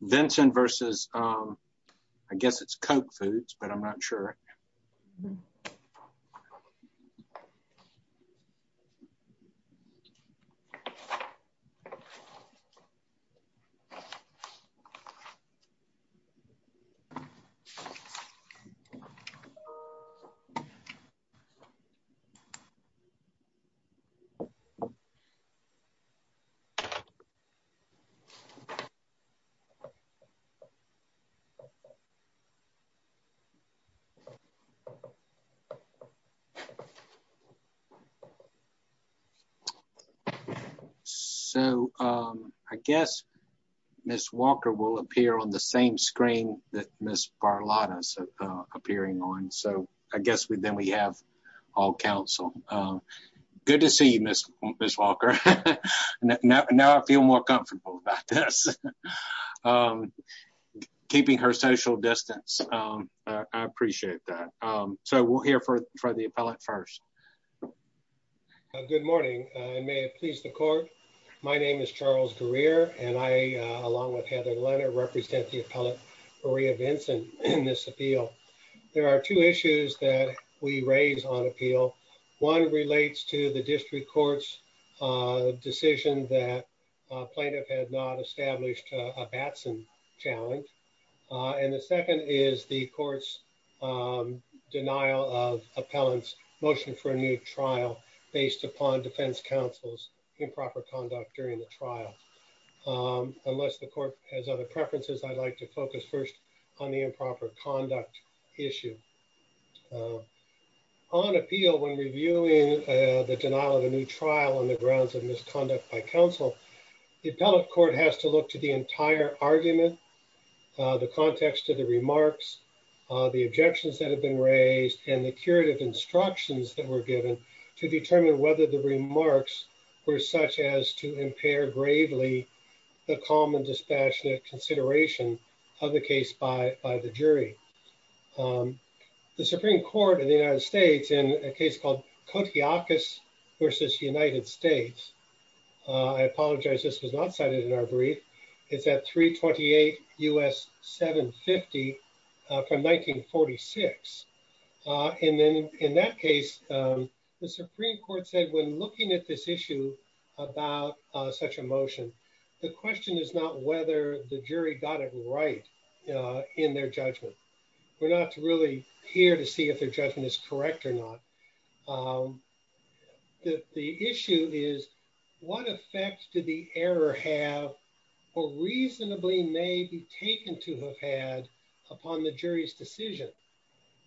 Vinson versus I guess it's Koch Foods, but I'm not sure So, um, I guess Miss Walker will appear on the same screen that Miss Barlotta's appearing on. So I guess we then we have all counsel. Good to see you, Miss Walker. Now I feel more comfortable about this. Keeping her social distance. I appreciate that. So we'll hear for the appellate first. Good morning. May it please the court. My name is Charles Greer and I, along with Heather Leonard, represent the appellate Maria Vinson in this appeal. There are two issues that we raise on appeal. One relates to the district court's decision that plaintiff had not established a Batson challenge. And the second is the court's denial of appellants motion for a new trial based upon defense counsel's improper conduct during the trial. Unless the court has other preferences, I'd like to focus first on the improper conduct issue on appeal when reviewing the denial of a new trial on the grounds of conduct by counsel. The appellate court has to look to the entire argument, the context of the remarks, the objections that have been raised, and the curative instructions that were given to determine whether the remarks were such as to impair gravely the calm and dispassionate consideration of the case by the jury. The Supreme Court in the United States, I apologize this was not cited in our brief, is at 328 U.S. 750 from 1946. And then in that case, the Supreme Court said when looking at this issue about such a motion, the question is not whether the jury got it right in their judgment. We're not really here to see if their judgment is correct or not. The issue is what effect did the error have or reasonably may be taken to have had upon the jury's decision?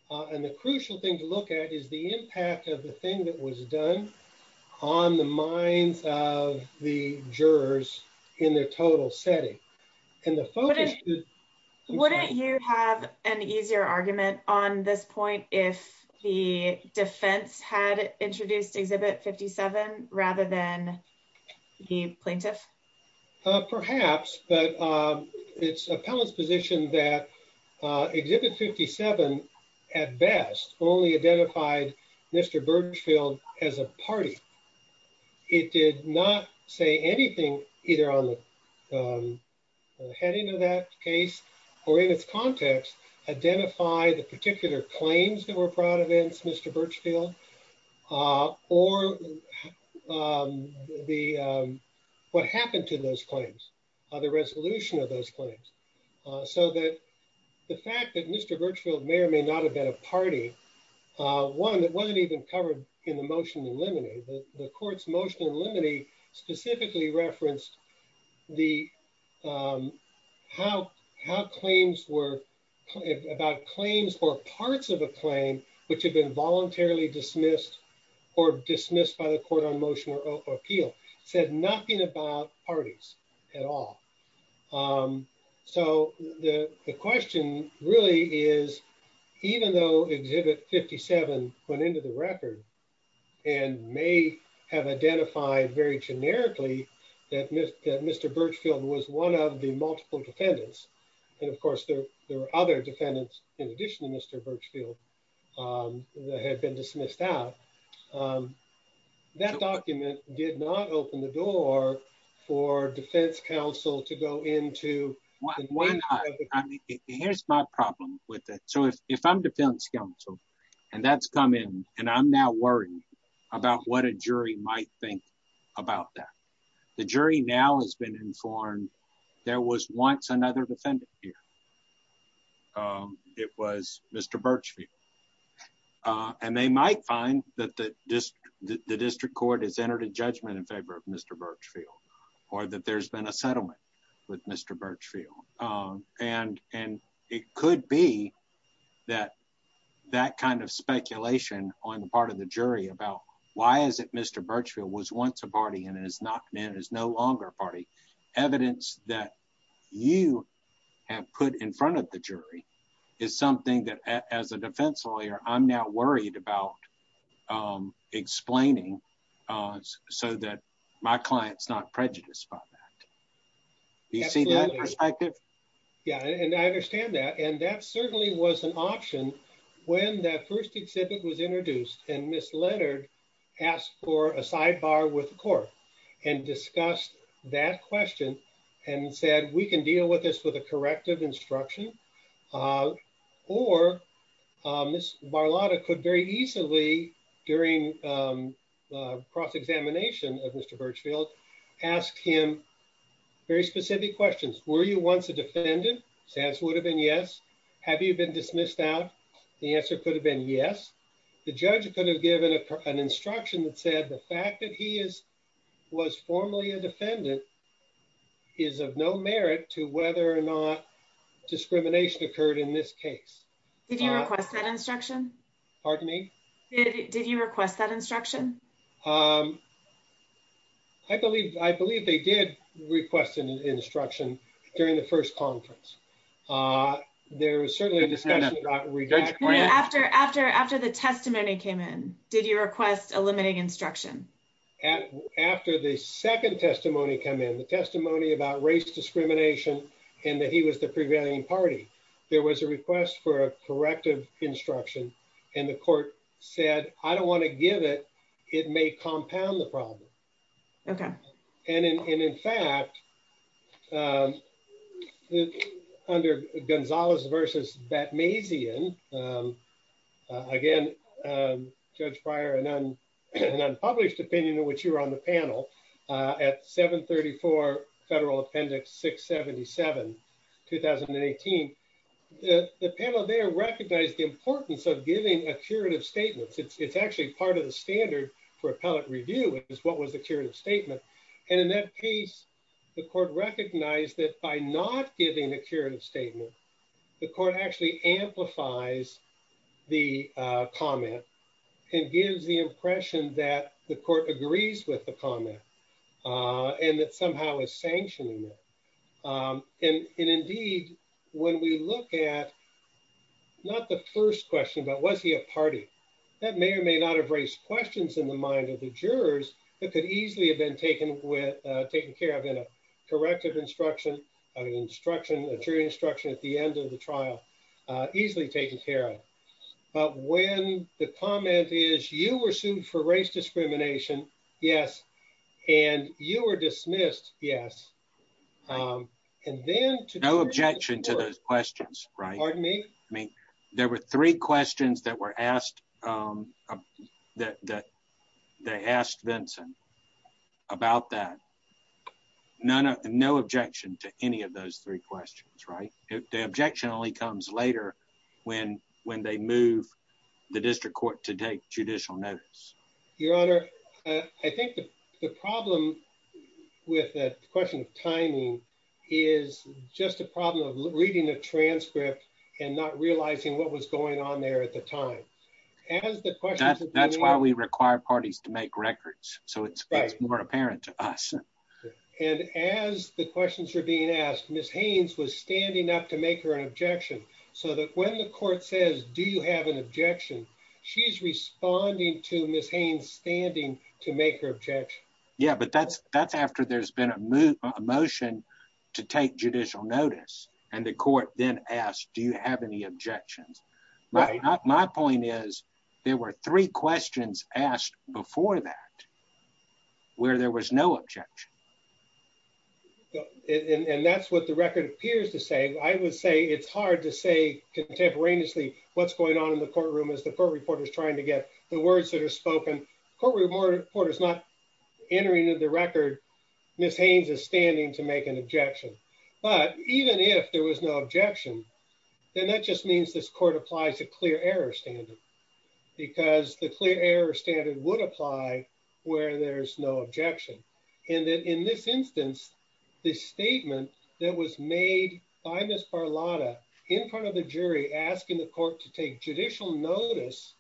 And the crucial thing to look at is the impact of the thing that was done on the minds of the jurors in their total setting. And the focus... Wouldn't you have an easier argument on this point if the defense had introduced Exhibit 57 rather than the plaintiff? Perhaps, but it's appellate's position that Exhibit 57 at best only identified Mr. Birchfield as a party. It did not say anything either on the heading of that case or in its context identify the particular claims that were brought against Mr. Birchfield or what happened to those claims, the resolution of those claims. So that the fact that Mr. Birchfield may or may not have been a party, one that wasn't even covered in the motion in limine. The court's motion in limine specifically referenced how claims were... About claims or parts of a claim, which had been voluntarily dismissed or dismissed by the even though Exhibit 57 went into the record and may have identified very generically that Mr. Birchfield was one of the multiple defendants. And of course, there were other defendants in addition to Mr. Birchfield that had been dismissed out. That document did not with it. So if I'm defense counsel and that's come in and I'm now worried about what a jury might think about that. The jury now has been informed there was once another defendant here. It was Mr. Birchfield. And they might find that the district court has entered a judgment in favor of Mr. Birchfield or that there's been a settlement with Mr. Birchfield. And it could be that that kind of speculation on the part of the jury about why is it Mr. Birchfield was once a party and has not been is no longer a party. Evidence that you have put in front of the jury is something that as a defense lawyer, I'm now worried about explaining so that my client's prejudice about that. Do you see that perspective? Yeah. And I understand that. And that certainly was an option when that first exhibit was introduced and Miss Leonard asked for a sidebar with the court and discussed that question and said, we can deal with this with a corrective instruction or Miss Barlotta could very easily during cross examination of Mr. Birchfield ask him very specific questions. Were you once a defendant? Sans would have been yes. Have you been dismissed out? The answer could have been yes. The judge could have given an instruction that said the fact that he is was formerly a defendant is of no merit to whether or not discrimination occurred in this case. Did you request that instruction? Pardon me? Did you request that instruction? Um, I believe I believe they did request an instruction during the first conference. Uh, there was certainly after after after the testimony came in, did you request a limiting instruction after the second testimony come in the testimony about race discrimination and that he was the prevailing party? There was a request for a corrective instruction and the it may compound the problem. Okay. And in fact, um, under Gonzalez versus Batmaison, um, again, um, judge prior and unpublished opinion in which you were on the panel, uh, at 7 34 federal appendix 6 77 2018. The panel there recognized the importance of giving a curative statements. It's actually part of the standard for appellate review is what was the curative statement. And in that case, the court recognized that by not giving the curative statement, the court actually amplifies the comment and gives the impression that the court agrees with the comment, uh, and that somehow is sanctioning it. Um, and indeed, when we look at not the first question, but was he a party that may or may not have raised questions in the mind of the jurors that could easily have been taken with, uh, taken care of in a corrective instruction, an instruction, a jury instruction at the end of the trial, uh, easily taken care of. But when the comment is you were sued for race discrimination, yes. And you were dismissed. Yes. Um, and then no objection to those questions, right? Pardon me. I mean, there were three questions that were asked, um, that they asked Vincent about that. None of no objection to any of those three questions, right? The objection only comes later when when they move the district to take judicial notice. Your honor, I think the problem with that question of timing is just a problem of reading a transcript and not realizing what was going on there at the time. As the question, that's why we require parties to make records. So it's more apparent to us. And as the questions are being asked, Ms. Haynes was standing up to make her an objection so that when the court says, do you have an objection? She's responding to Ms. Haynes standing to make her objection. Yeah, but that's, that's after there's been a motion to take judicial notice and the court then asked, do you have any objections? My point is there were three questions asked before that where there was no objection. Yeah, and that's what the record appears to say. I would say it's hard to say contemporaneously what's going on in the courtroom as the court reporter is trying to get the words that are spoken. Court reporter is not entering into the record. Ms. Haynes is standing to make an objection. But even if there was no objection, then that just means this court applies a clear standard because the clear error standard would apply where there's no objection. And then in this instance, the statement that was made by Ms. Barlotta in front of the jury, asking the court to take judicial notice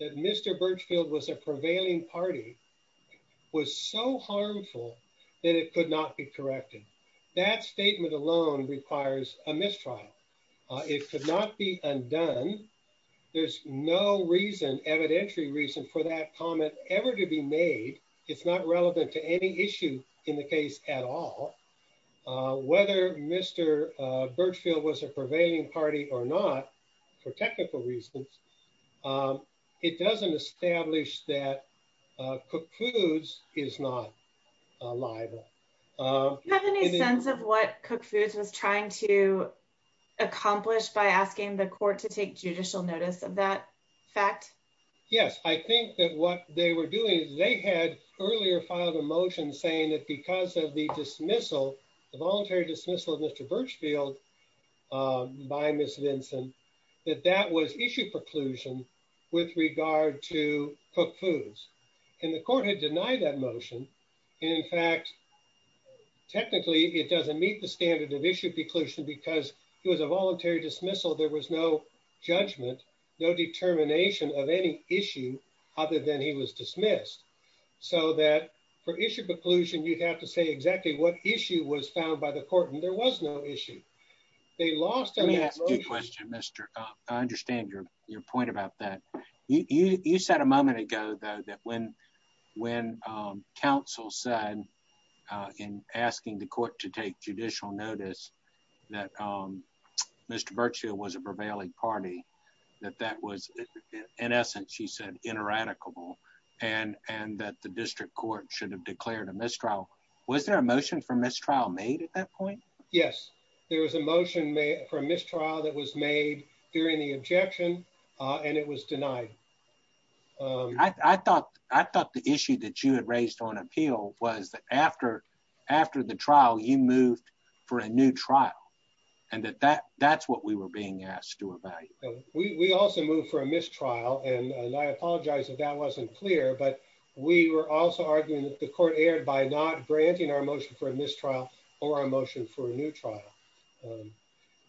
that Mr. Birchfield was a prevailing party was so harmful that it could not be corrected. That statement alone requires a mistrial. It could not be undone. There's no reason, evidentiary reason for that comment ever to be made. It's not relevant to any issue in the case at all. Whether Mr. Birchfield was a prevailing party or not for technical reasons, it doesn't establish that Cook Foods is not liable. Do you have any sense of what Cook Foods was trying to accomplish by asking the court to take judicial notice of that fact? Yes. I think that what they were doing is they had earlier filed a motion saying that because of the dismissal, the voluntary dismissal of Mr. Birchfield by Ms. Vinson, that that was issue preclusion with regard to Cook Foods. And the technically it doesn't meet the standard of issue preclusion because it was a voluntary dismissal. There was no judgment, no determination of any issue other than he was dismissed. So that for issue preclusion, you'd have to say exactly what issue was found by the court and there was no issue. They lost. Let me ask you a question, Mr. I understand your point about that. You said a when counsel said in asking the court to take judicial notice that Mr. Birchfield was a prevailing party, that that was in essence, she said, ineradicable and that the district court should have declared a mistrial. Was there a motion for mistrial made at that point? Yes, there was a for mistrial that was made during the objection and it was denied. I thought the issue that you had raised on appeal was that after the trial, you moved for a new trial and that that's what we were being asked to evaluate. We also moved for a mistrial and I apologize if that wasn't clear, but we were also arguing that the court erred by not granting our motion for a mistrial or our motion for a new trial.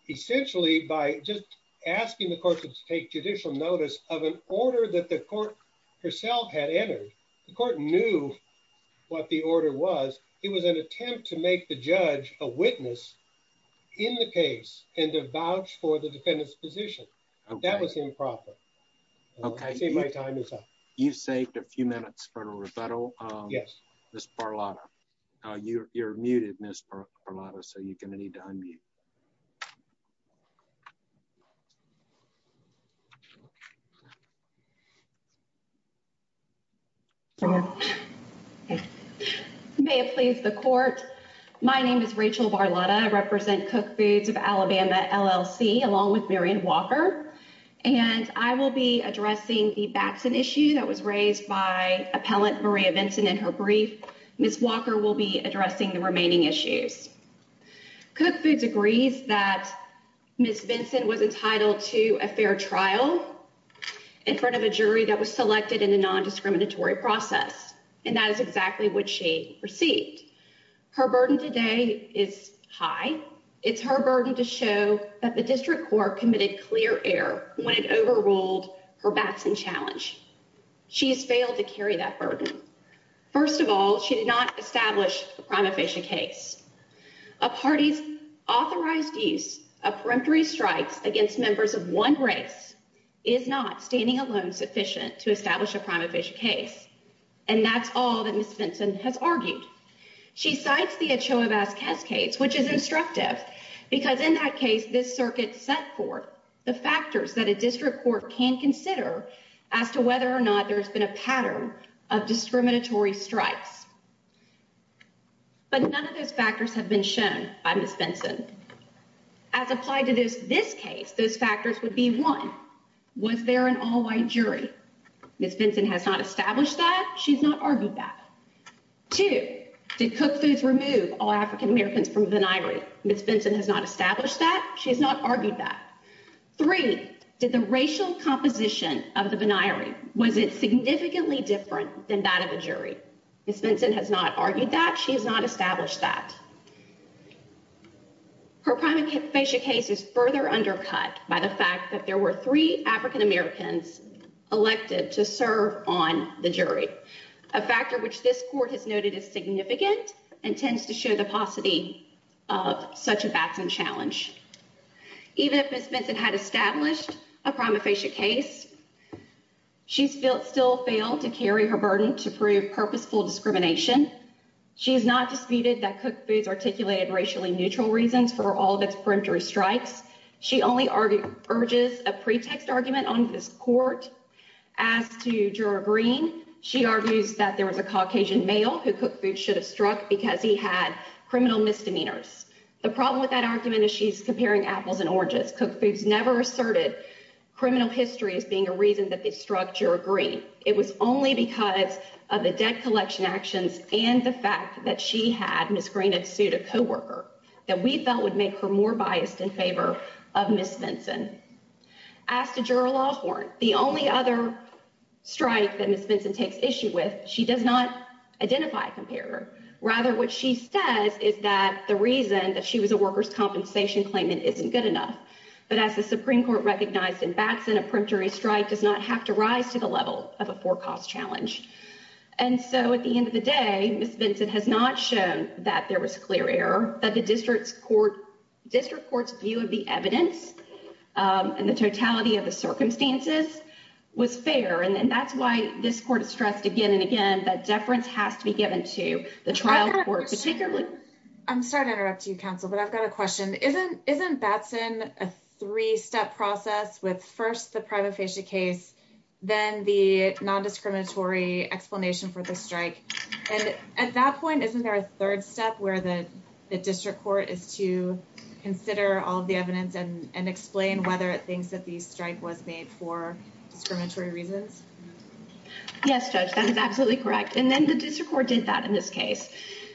Essentially, by just asking the court to take judicial notice of an order that the court herself had entered, the court knew what the order was. It was an attempt to make the judge a witness in the case and to vouch for the defendant's position. That was improper. Okay, my time is up. You saved a few minutes for a rebuttal. Yes, Ms. Barlotta. You're muted, Ms. Barlotta, so you're going to need to unmute. May it please the court. My name is Rachel Barlotta. I represent Cook Foods of Alabama, LLC, along with Marion Walker and I will be addressing the Baxton issue that was raised by Ms. Walker. Ms. Walker will be addressing the remaining issues. Cook Foods agrees that Ms. Benson was entitled to a fair trial in front of a jury that was selected in a non-discriminatory process and that is exactly what she received. Her burden today is high. It's her burden to show that the district court committed clear error when it overruled her Baxton challenge. She has failed to carry that burden. First of all, she did not establish a prima facie case. A party's authorized use of peremptory strikes against members of one race is not standing alone sufficient to establish a prima facie case and that's all that Ms. Benson has argued. She cites the Ochoa Vasquez case, which is instructive because in that case this circuit set forth the factors that a district court can consider as to whether or not there's been a pattern of discriminatory strikes. But none of those factors have been shown by Ms. Benson. As applied to this case, those factors would be one, was there an all-white jury? Ms. Benson has not established that. She's not argued that. Two, did cook foods remove all African-Americans from the venire? Ms. Benson has not established that. She has not argued that. Three, did the racial composition of the venire, was it significantly different than that of a jury? Ms. Benson has not argued that. She has not established that. Her prima facie case is further undercut by the fact that there were three African-Americans elected to serve on the jury, a factor which this court has noted is significant and tends to show the paucity of such a batsman challenge. Even if Ms. Benson had established a prima facie case, she's still failed to carry her burden to prove purposeful discrimination. She has not disputed that cook foods articulated racially neutral reasons for all of its peremptory strikes. She only urges a pretext argument on this court. As to juror Green, she argues that there was a Caucasian male who cook foods should have struck because he had criminal misdemeanors. The problem with that argument is she's comparing apples and oranges. Cook foods never asserted criminal history as being a reason that they struck juror Green. It was only because of the debt collection actions and the fact that she had, Ms. Green, sued a co-worker that we felt would make her more biased in favor of Ms. Benson. As to juror Lawhorn, the only other strike that Ms. Benson takes issue with, she does not identify a comparator. Rather, what she says is that the reason that she was a workers' compensation claimant isn't good enough. But as the Supreme Court recognized in Batson, a peremptory strike does not have to rise to the level of a four-cost challenge. And so at the end of the day, Ms. Benson has not shown that there was clear error, that the district court's view of the evidence and the totality of the circumstances was fair. And that's why this court has stressed again and again that deference has to be given to the trial court, particularly... I'm sorry to interrupt you, counsel, but I've got a question. Isn't Batson a three-step process with first the prima facie case, then the non-discriminatory explanation for the strike? And at that point, isn't there a third step where the district court is to consider all of the evidence and explain whether it thinks that the strike was made for discriminatory reasons? Yes, Judge, that is absolutely correct. And then the district court did that in this case.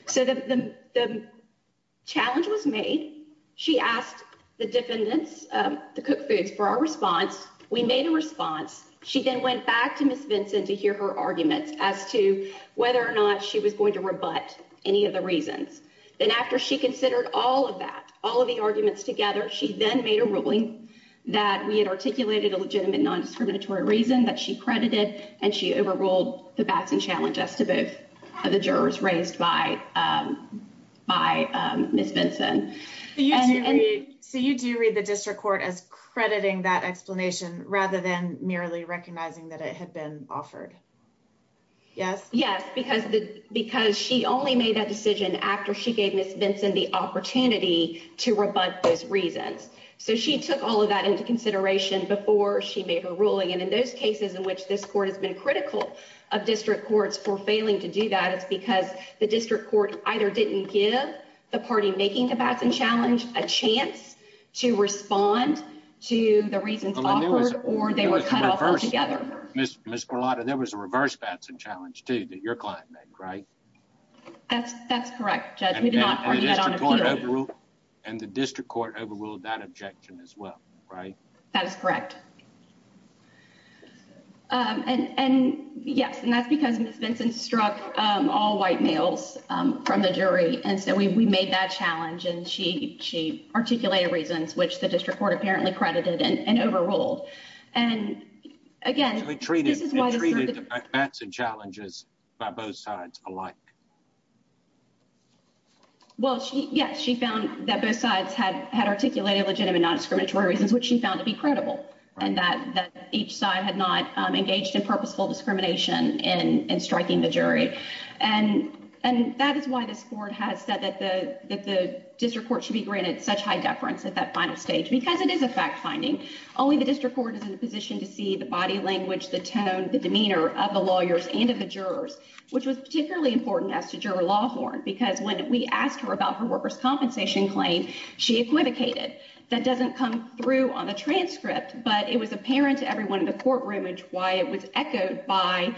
So the challenge was made. She asked the defendants, the Cook Foods, for our response. We made a response. She then went back to Ms. Benson to hear her arguments as to whether or not she was going to rebut any of the reasons. Then after she considered all of that, all of the arguments together, she then made a ruling that we had articulated a legitimate non-discriminatory reason that she credited, and she overruled the Batson challenge as to both of the jurors raised by Ms. Benson. So you do read the district court as crediting that explanation rather than merely recognizing that it had been offered. Yes? Yes, because she only made that decision after she gave Ms. Benson the opportunity to rebut those reasons. So she took all of that into consideration before she made her ruling. And in those cases in which this court has been critical of district courts for failing to do that, it's because the district court either didn't give the party making the Batson challenge a chance to respond to the reasons offered, or they were cut off from Ms. Berlotta. There was a reverse Batson challenge too that your client made, right? That's correct, Judge. And the district court overruled that objection as well, right? That is correct. Yes, and that's because Ms. Benson struck all white males from the jury, and so we made that challenge, and she articulated reasons which the district court apparently credited and overruled. And again... It treated the Batson challenges by both sides alike. Well, yes, she found that both sides had articulated legitimate non-discriminatory reasons, which she found to be credible, and that each side had not engaged in purposeful discrimination in striking the jury. And that is why this court has said that the district court should be granted such high deference at that final stage, because it is a fact-finding. Only the district court is in a position to see the body language, the tone, the demeanor of the lawyers and of the jurors, which was particularly important as to Juror Lawhorn, because when we asked her about her workers' compensation claim, she equivocated. That doesn't come through on the transcript, but it was apparent to everyone in the courtroom, which is why it was echoed by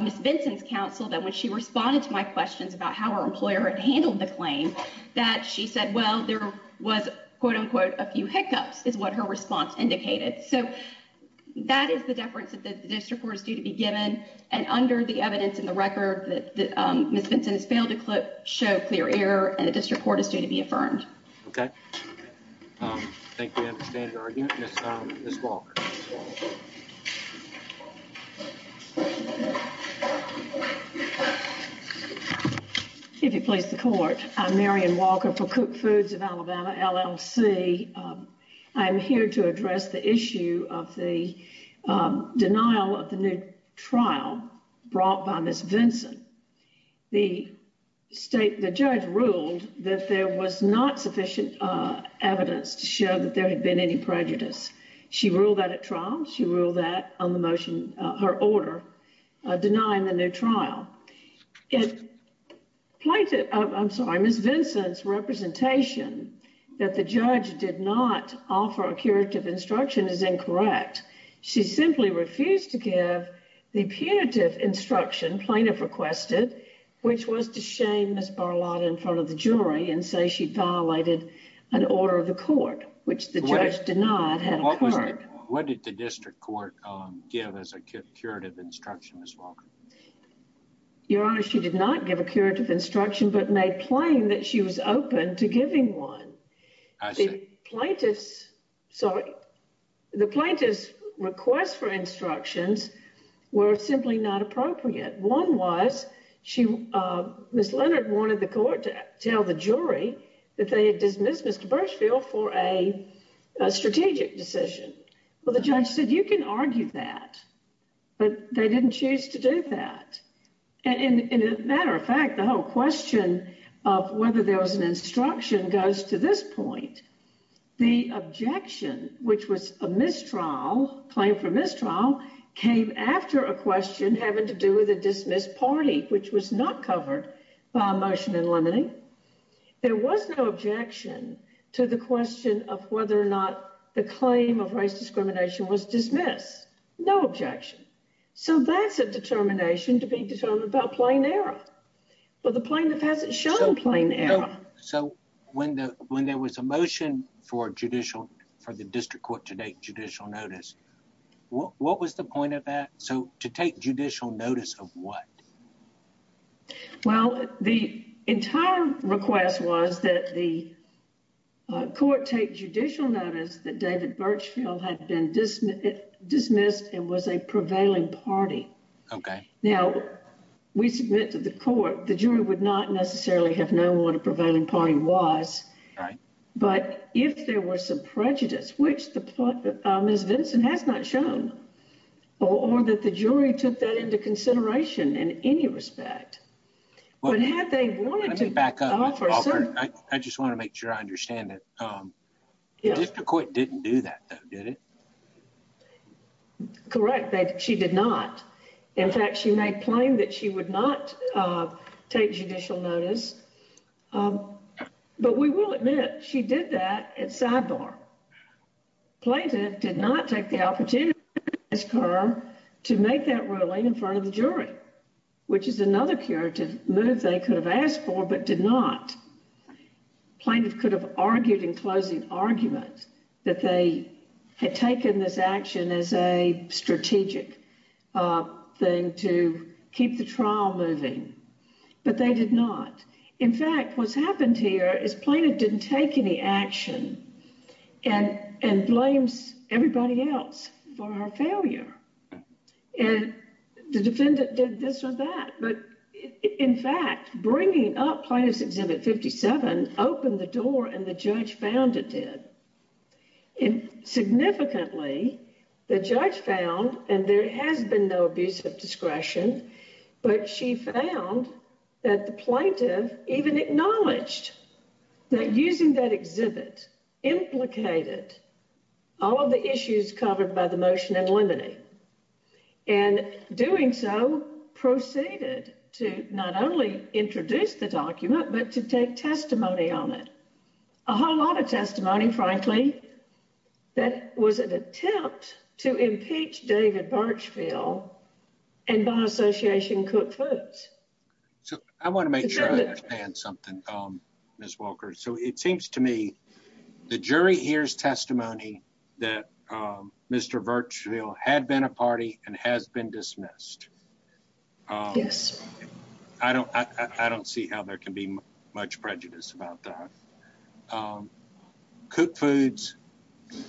Ms. Benson's counsel, that when she responded to my questions about how her employer had handled the claim, that she said, well, there was, quote-unquote, a few hiccups, is what her response indicated. So that is the deference that the district court is due to be given. And under the evidence in the record, Ms. Benson has failed to show clear error and the district court is due to be affirmed. Okay. I think we understand your argument. Ms. Walker. If you please the court, I'm Marion Walker for Cook Foods of Alabama, LLC. I'm here to address the issue of the denial of the new trial brought by Ms. Benson. The state, the judge ruled that there was not sufficient evidence to show that there had been any denying the new trial. Plaintiff, I'm sorry, Ms. Benson's representation that the judge did not offer a curative instruction is incorrect. She simply refused to give the punitive instruction plaintiff requested, which was to shame Ms. Barlotta in front of the jury and say she'd violated an order of the court, which the judge denied had occurred. What did the district court give as a curative instruction, Ms. Walker? Your Honor, she did not give a curative instruction, but made plain that she was open to giving one. The plaintiff's request for instructions were simply not appropriate. One was, Ms. Leonard wanted the court to tell the jury that they had dismissed Mr. Burchfield for a strategic decision. Well, the judge said, you can argue that, but they didn't choose to do that. And as a matter of fact, the whole question of whether there was an instruction goes to this point. The objection, which was a mistrial, claim for mistrial, came after a question having to do with a dismissed party, which was not covered by a motion in limine. There was no objection to the question of whether or not the claim of race discrimination was dismissed. No objection. So that's a determination to be determined about plain error. But the plaintiff hasn't shown plain error. So when there was a motion for judicial, for the district court to take judicial notice, what was the point of that? So to take judicial notice of what? Well, the entire request was that the court take judicial notice that David Burchfield had been dismissed and was a prevailing party. Okay. Now, we submit to the court, the jury would not necessarily have known what a prevailing party was. Right. But if there were some prejudice, which Ms. Vinson has not shown, or that the jury took that into consideration in any respect, but had they wanted to back up. I just want to make sure I understand that the court didn't do that, though, did it? Correct. She did not. In fact, she made plain that she would not take judicial notice. But we will admit she did that at sidebar. Plaintiff did not take the opportunity to make that ruling in front of the jury, which is another curative move they could have asked for, but did not. Plaintiff could have argued in closing argument that they had taken this action as a strategic thing to keep the trial moving. But they did not. In fact, what's happened here is plaintiff didn't take any action and and blames everybody else for her failure. And the defendant did this or that. But in fact, bringing up plaintiff's exhibit 57 opened the door and the judge found it did. And significantly, the judge found and there has been no abuse of discretion, but she found that the plaintiff even acknowledged that using that and doing so proceeded to not only introduce the document, but to take testimony on it. A whole lot of testimony, frankly, that was an attempt to impeach David Birchfield and by Association Cook Foods. So I want to make sure I understand something, Ms. Walker. So it seems to me the jury hears testimony that Mr. Birchfield had been a party and has been dismissed. Yes. I don't see how there can be much prejudice about that. Cook Foods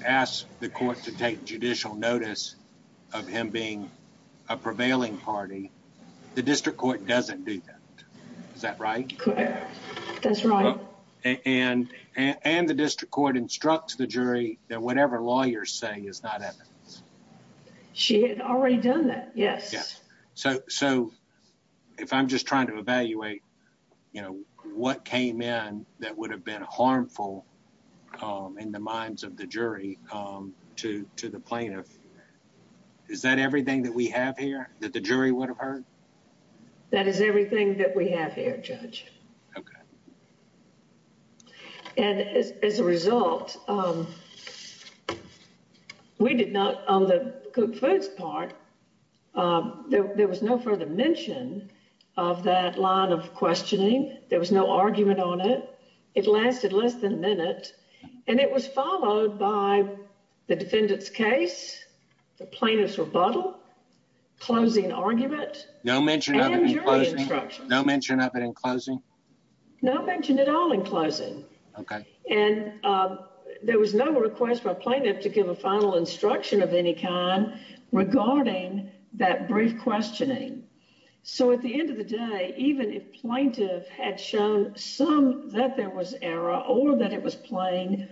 asked the court to take judicial notice of him being a prevailing party. The district court doesn't do that. Is that right? That's right. And the district court instructs the jury that whatever lawyers say is not evidence. She had already done that. Yes. So if I'm just trying to evaluate, you know, what came in that would have been harmful in the minds of the jury to the plaintiff, is that everything that we have here that the jury would have heard? That is everything that we have here, Judge. Okay. And as a result, we did not on the Cook Foods part, there was no further mention of that line of questioning. There was no argument on it. It lasted less than a minute and it was followed by the defendant's case, the plaintiff's rebuttal, closing argument. No mention of it in closing? No mention of it in closing? No mention at all in closing. Okay. And there was no request by plaintiff to give a final instruction of any kind regarding that brief questioning. So at the end of the day, even if plaintiff had shown some that there was error or that it was plain,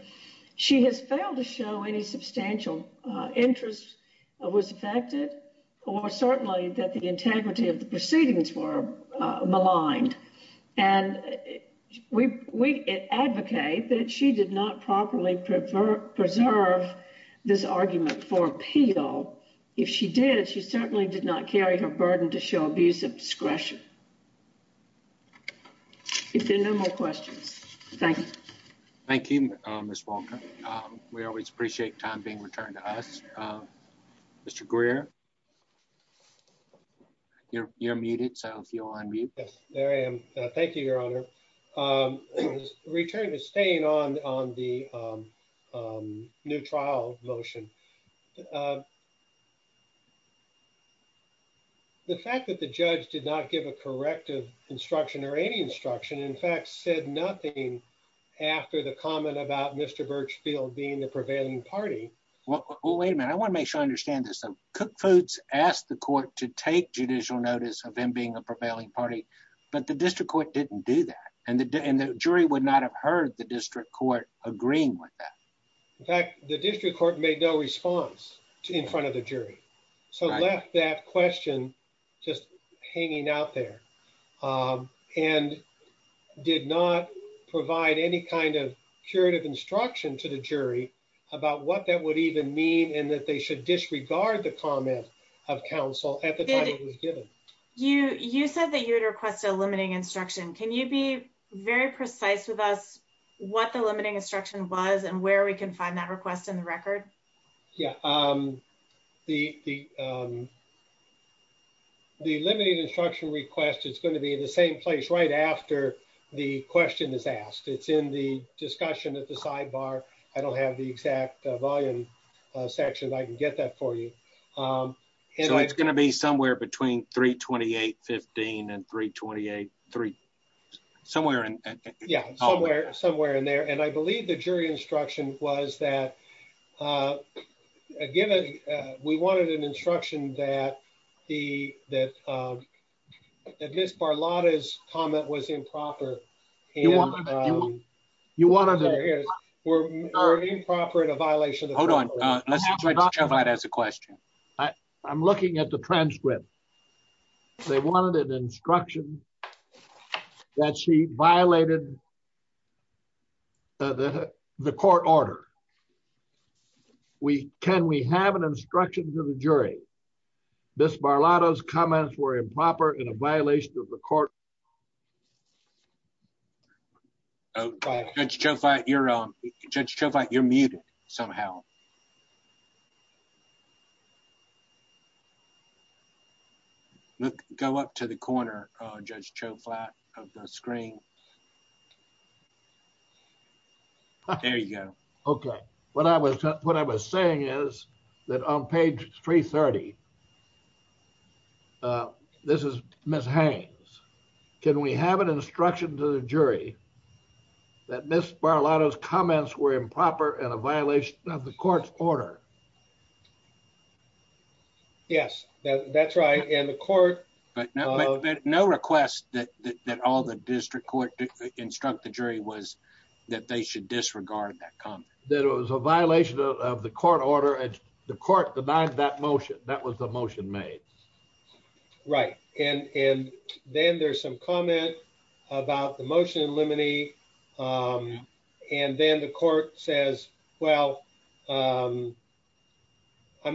she has failed to show any substantial interest was affected or certainly that the integrity of the proceedings were maligned. And we advocate that she did not properly preserve this argument for appeal. If she did, she certainly did not question. Thank you. Thank you, Ms. Walker. We always appreciate time being returned to us. Mr. Greer, you're muted. So if you'll unmute. Yes, there I am. Thank you, Your Honor. Return to staying on the new trial motion. The fact that the judge did not give a corrective instruction or any instruction, in fact, said nothing after the comment about Mr. Birchfield being the prevailing party. Well, wait a minute. I want to make sure I understand this. Cook Foods asked the court to take judicial notice of him being a prevailing party, but the district court didn't do that. And the jury would not have heard the district court agreeing with that. In fact, the district court made no response in front of the jury, so left that question just hanging out there and did not provide any kind of curative instruction to the jury about what that would even mean and that they should disregard the comment of counsel at the time it was given. You said that you would request a limiting instruction. Can you be very precise with us what the limiting instruction was and where we can find that request in the record? Yeah, the limiting instruction request is going to be in the same place right after the question is asked. It's in the discussion at the sidebar. I don't have the exact volume section, but I can get that for you. So it's going to be somewhere between 328-15 and 328-3, somewhere in there. Yeah, somewhere in there. And I believe the jury instruction was that, given we wanted an instruction that Ms. Barlotta's comment was improper. You want to hear it. Or improper in a violation. Hold on. Let's try to clarify it as a question. I'm looking at the transcript. They wanted an instruction that she violated the court order. Can we have an instruction to the jury, Ms. Barlotta's comments were improper in a violation of the court order? Judge Choflat, you're muted somehow. Go up to the corner, Judge Choflat, of the screen. There you go. Okay. What I was saying is that on page 330, this is Ms. Haynes. Can we have an instruction to the jury that Ms. Barlotta's comments were improper in a violation of the court's order? Yes, that's right. And the court. But no request that all the district court instruct the jury was that they should disregard that comment. That it was a violation of the court order and the court denied that motion. That was the motion made. Right. And then there's some comment about the motion in limine. And then the court says, well, I'm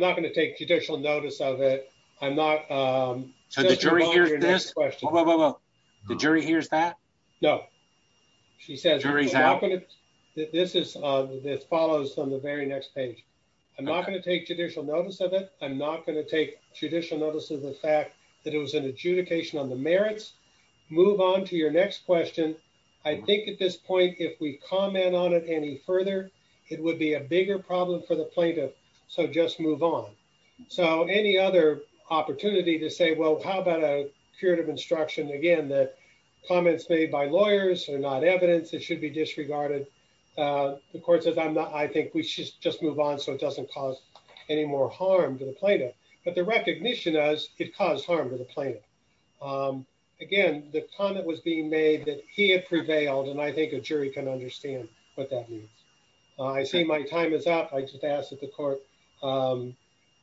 not going to take judicial notice of it. I'm not. So the jury hears this? Wait, wait, wait. The jury hears that? No. The jury's out? This follows from the very next page. I'm not going to take judicial notice of it. I'm not going to take judicial notice of the fact that it was an adjudication on the merits. Move on to your next question. I think at this point, if we comment on it any further, it would be a bigger problem for the plaintiff. So just move on. So any other opportunity to say, well, how about a curative instruction? Again, that comments made by lawyers are not evidence. It should be disregarded. The court says, I think we should just move on so it doesn't cause any more harm to the plaintiff. But the recognition is it caused harm to the plaintiff. Again, the comment was being made that he had prevailed. And I think a jury can understand what that means. I see my time is up. I just ask that the court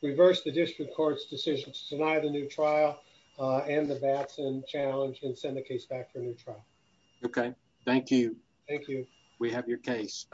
reverse the district court's decision to deny the new trial and the Batson challenge and send the case back for a new trial. OK, thank you. Thank you. We have your case.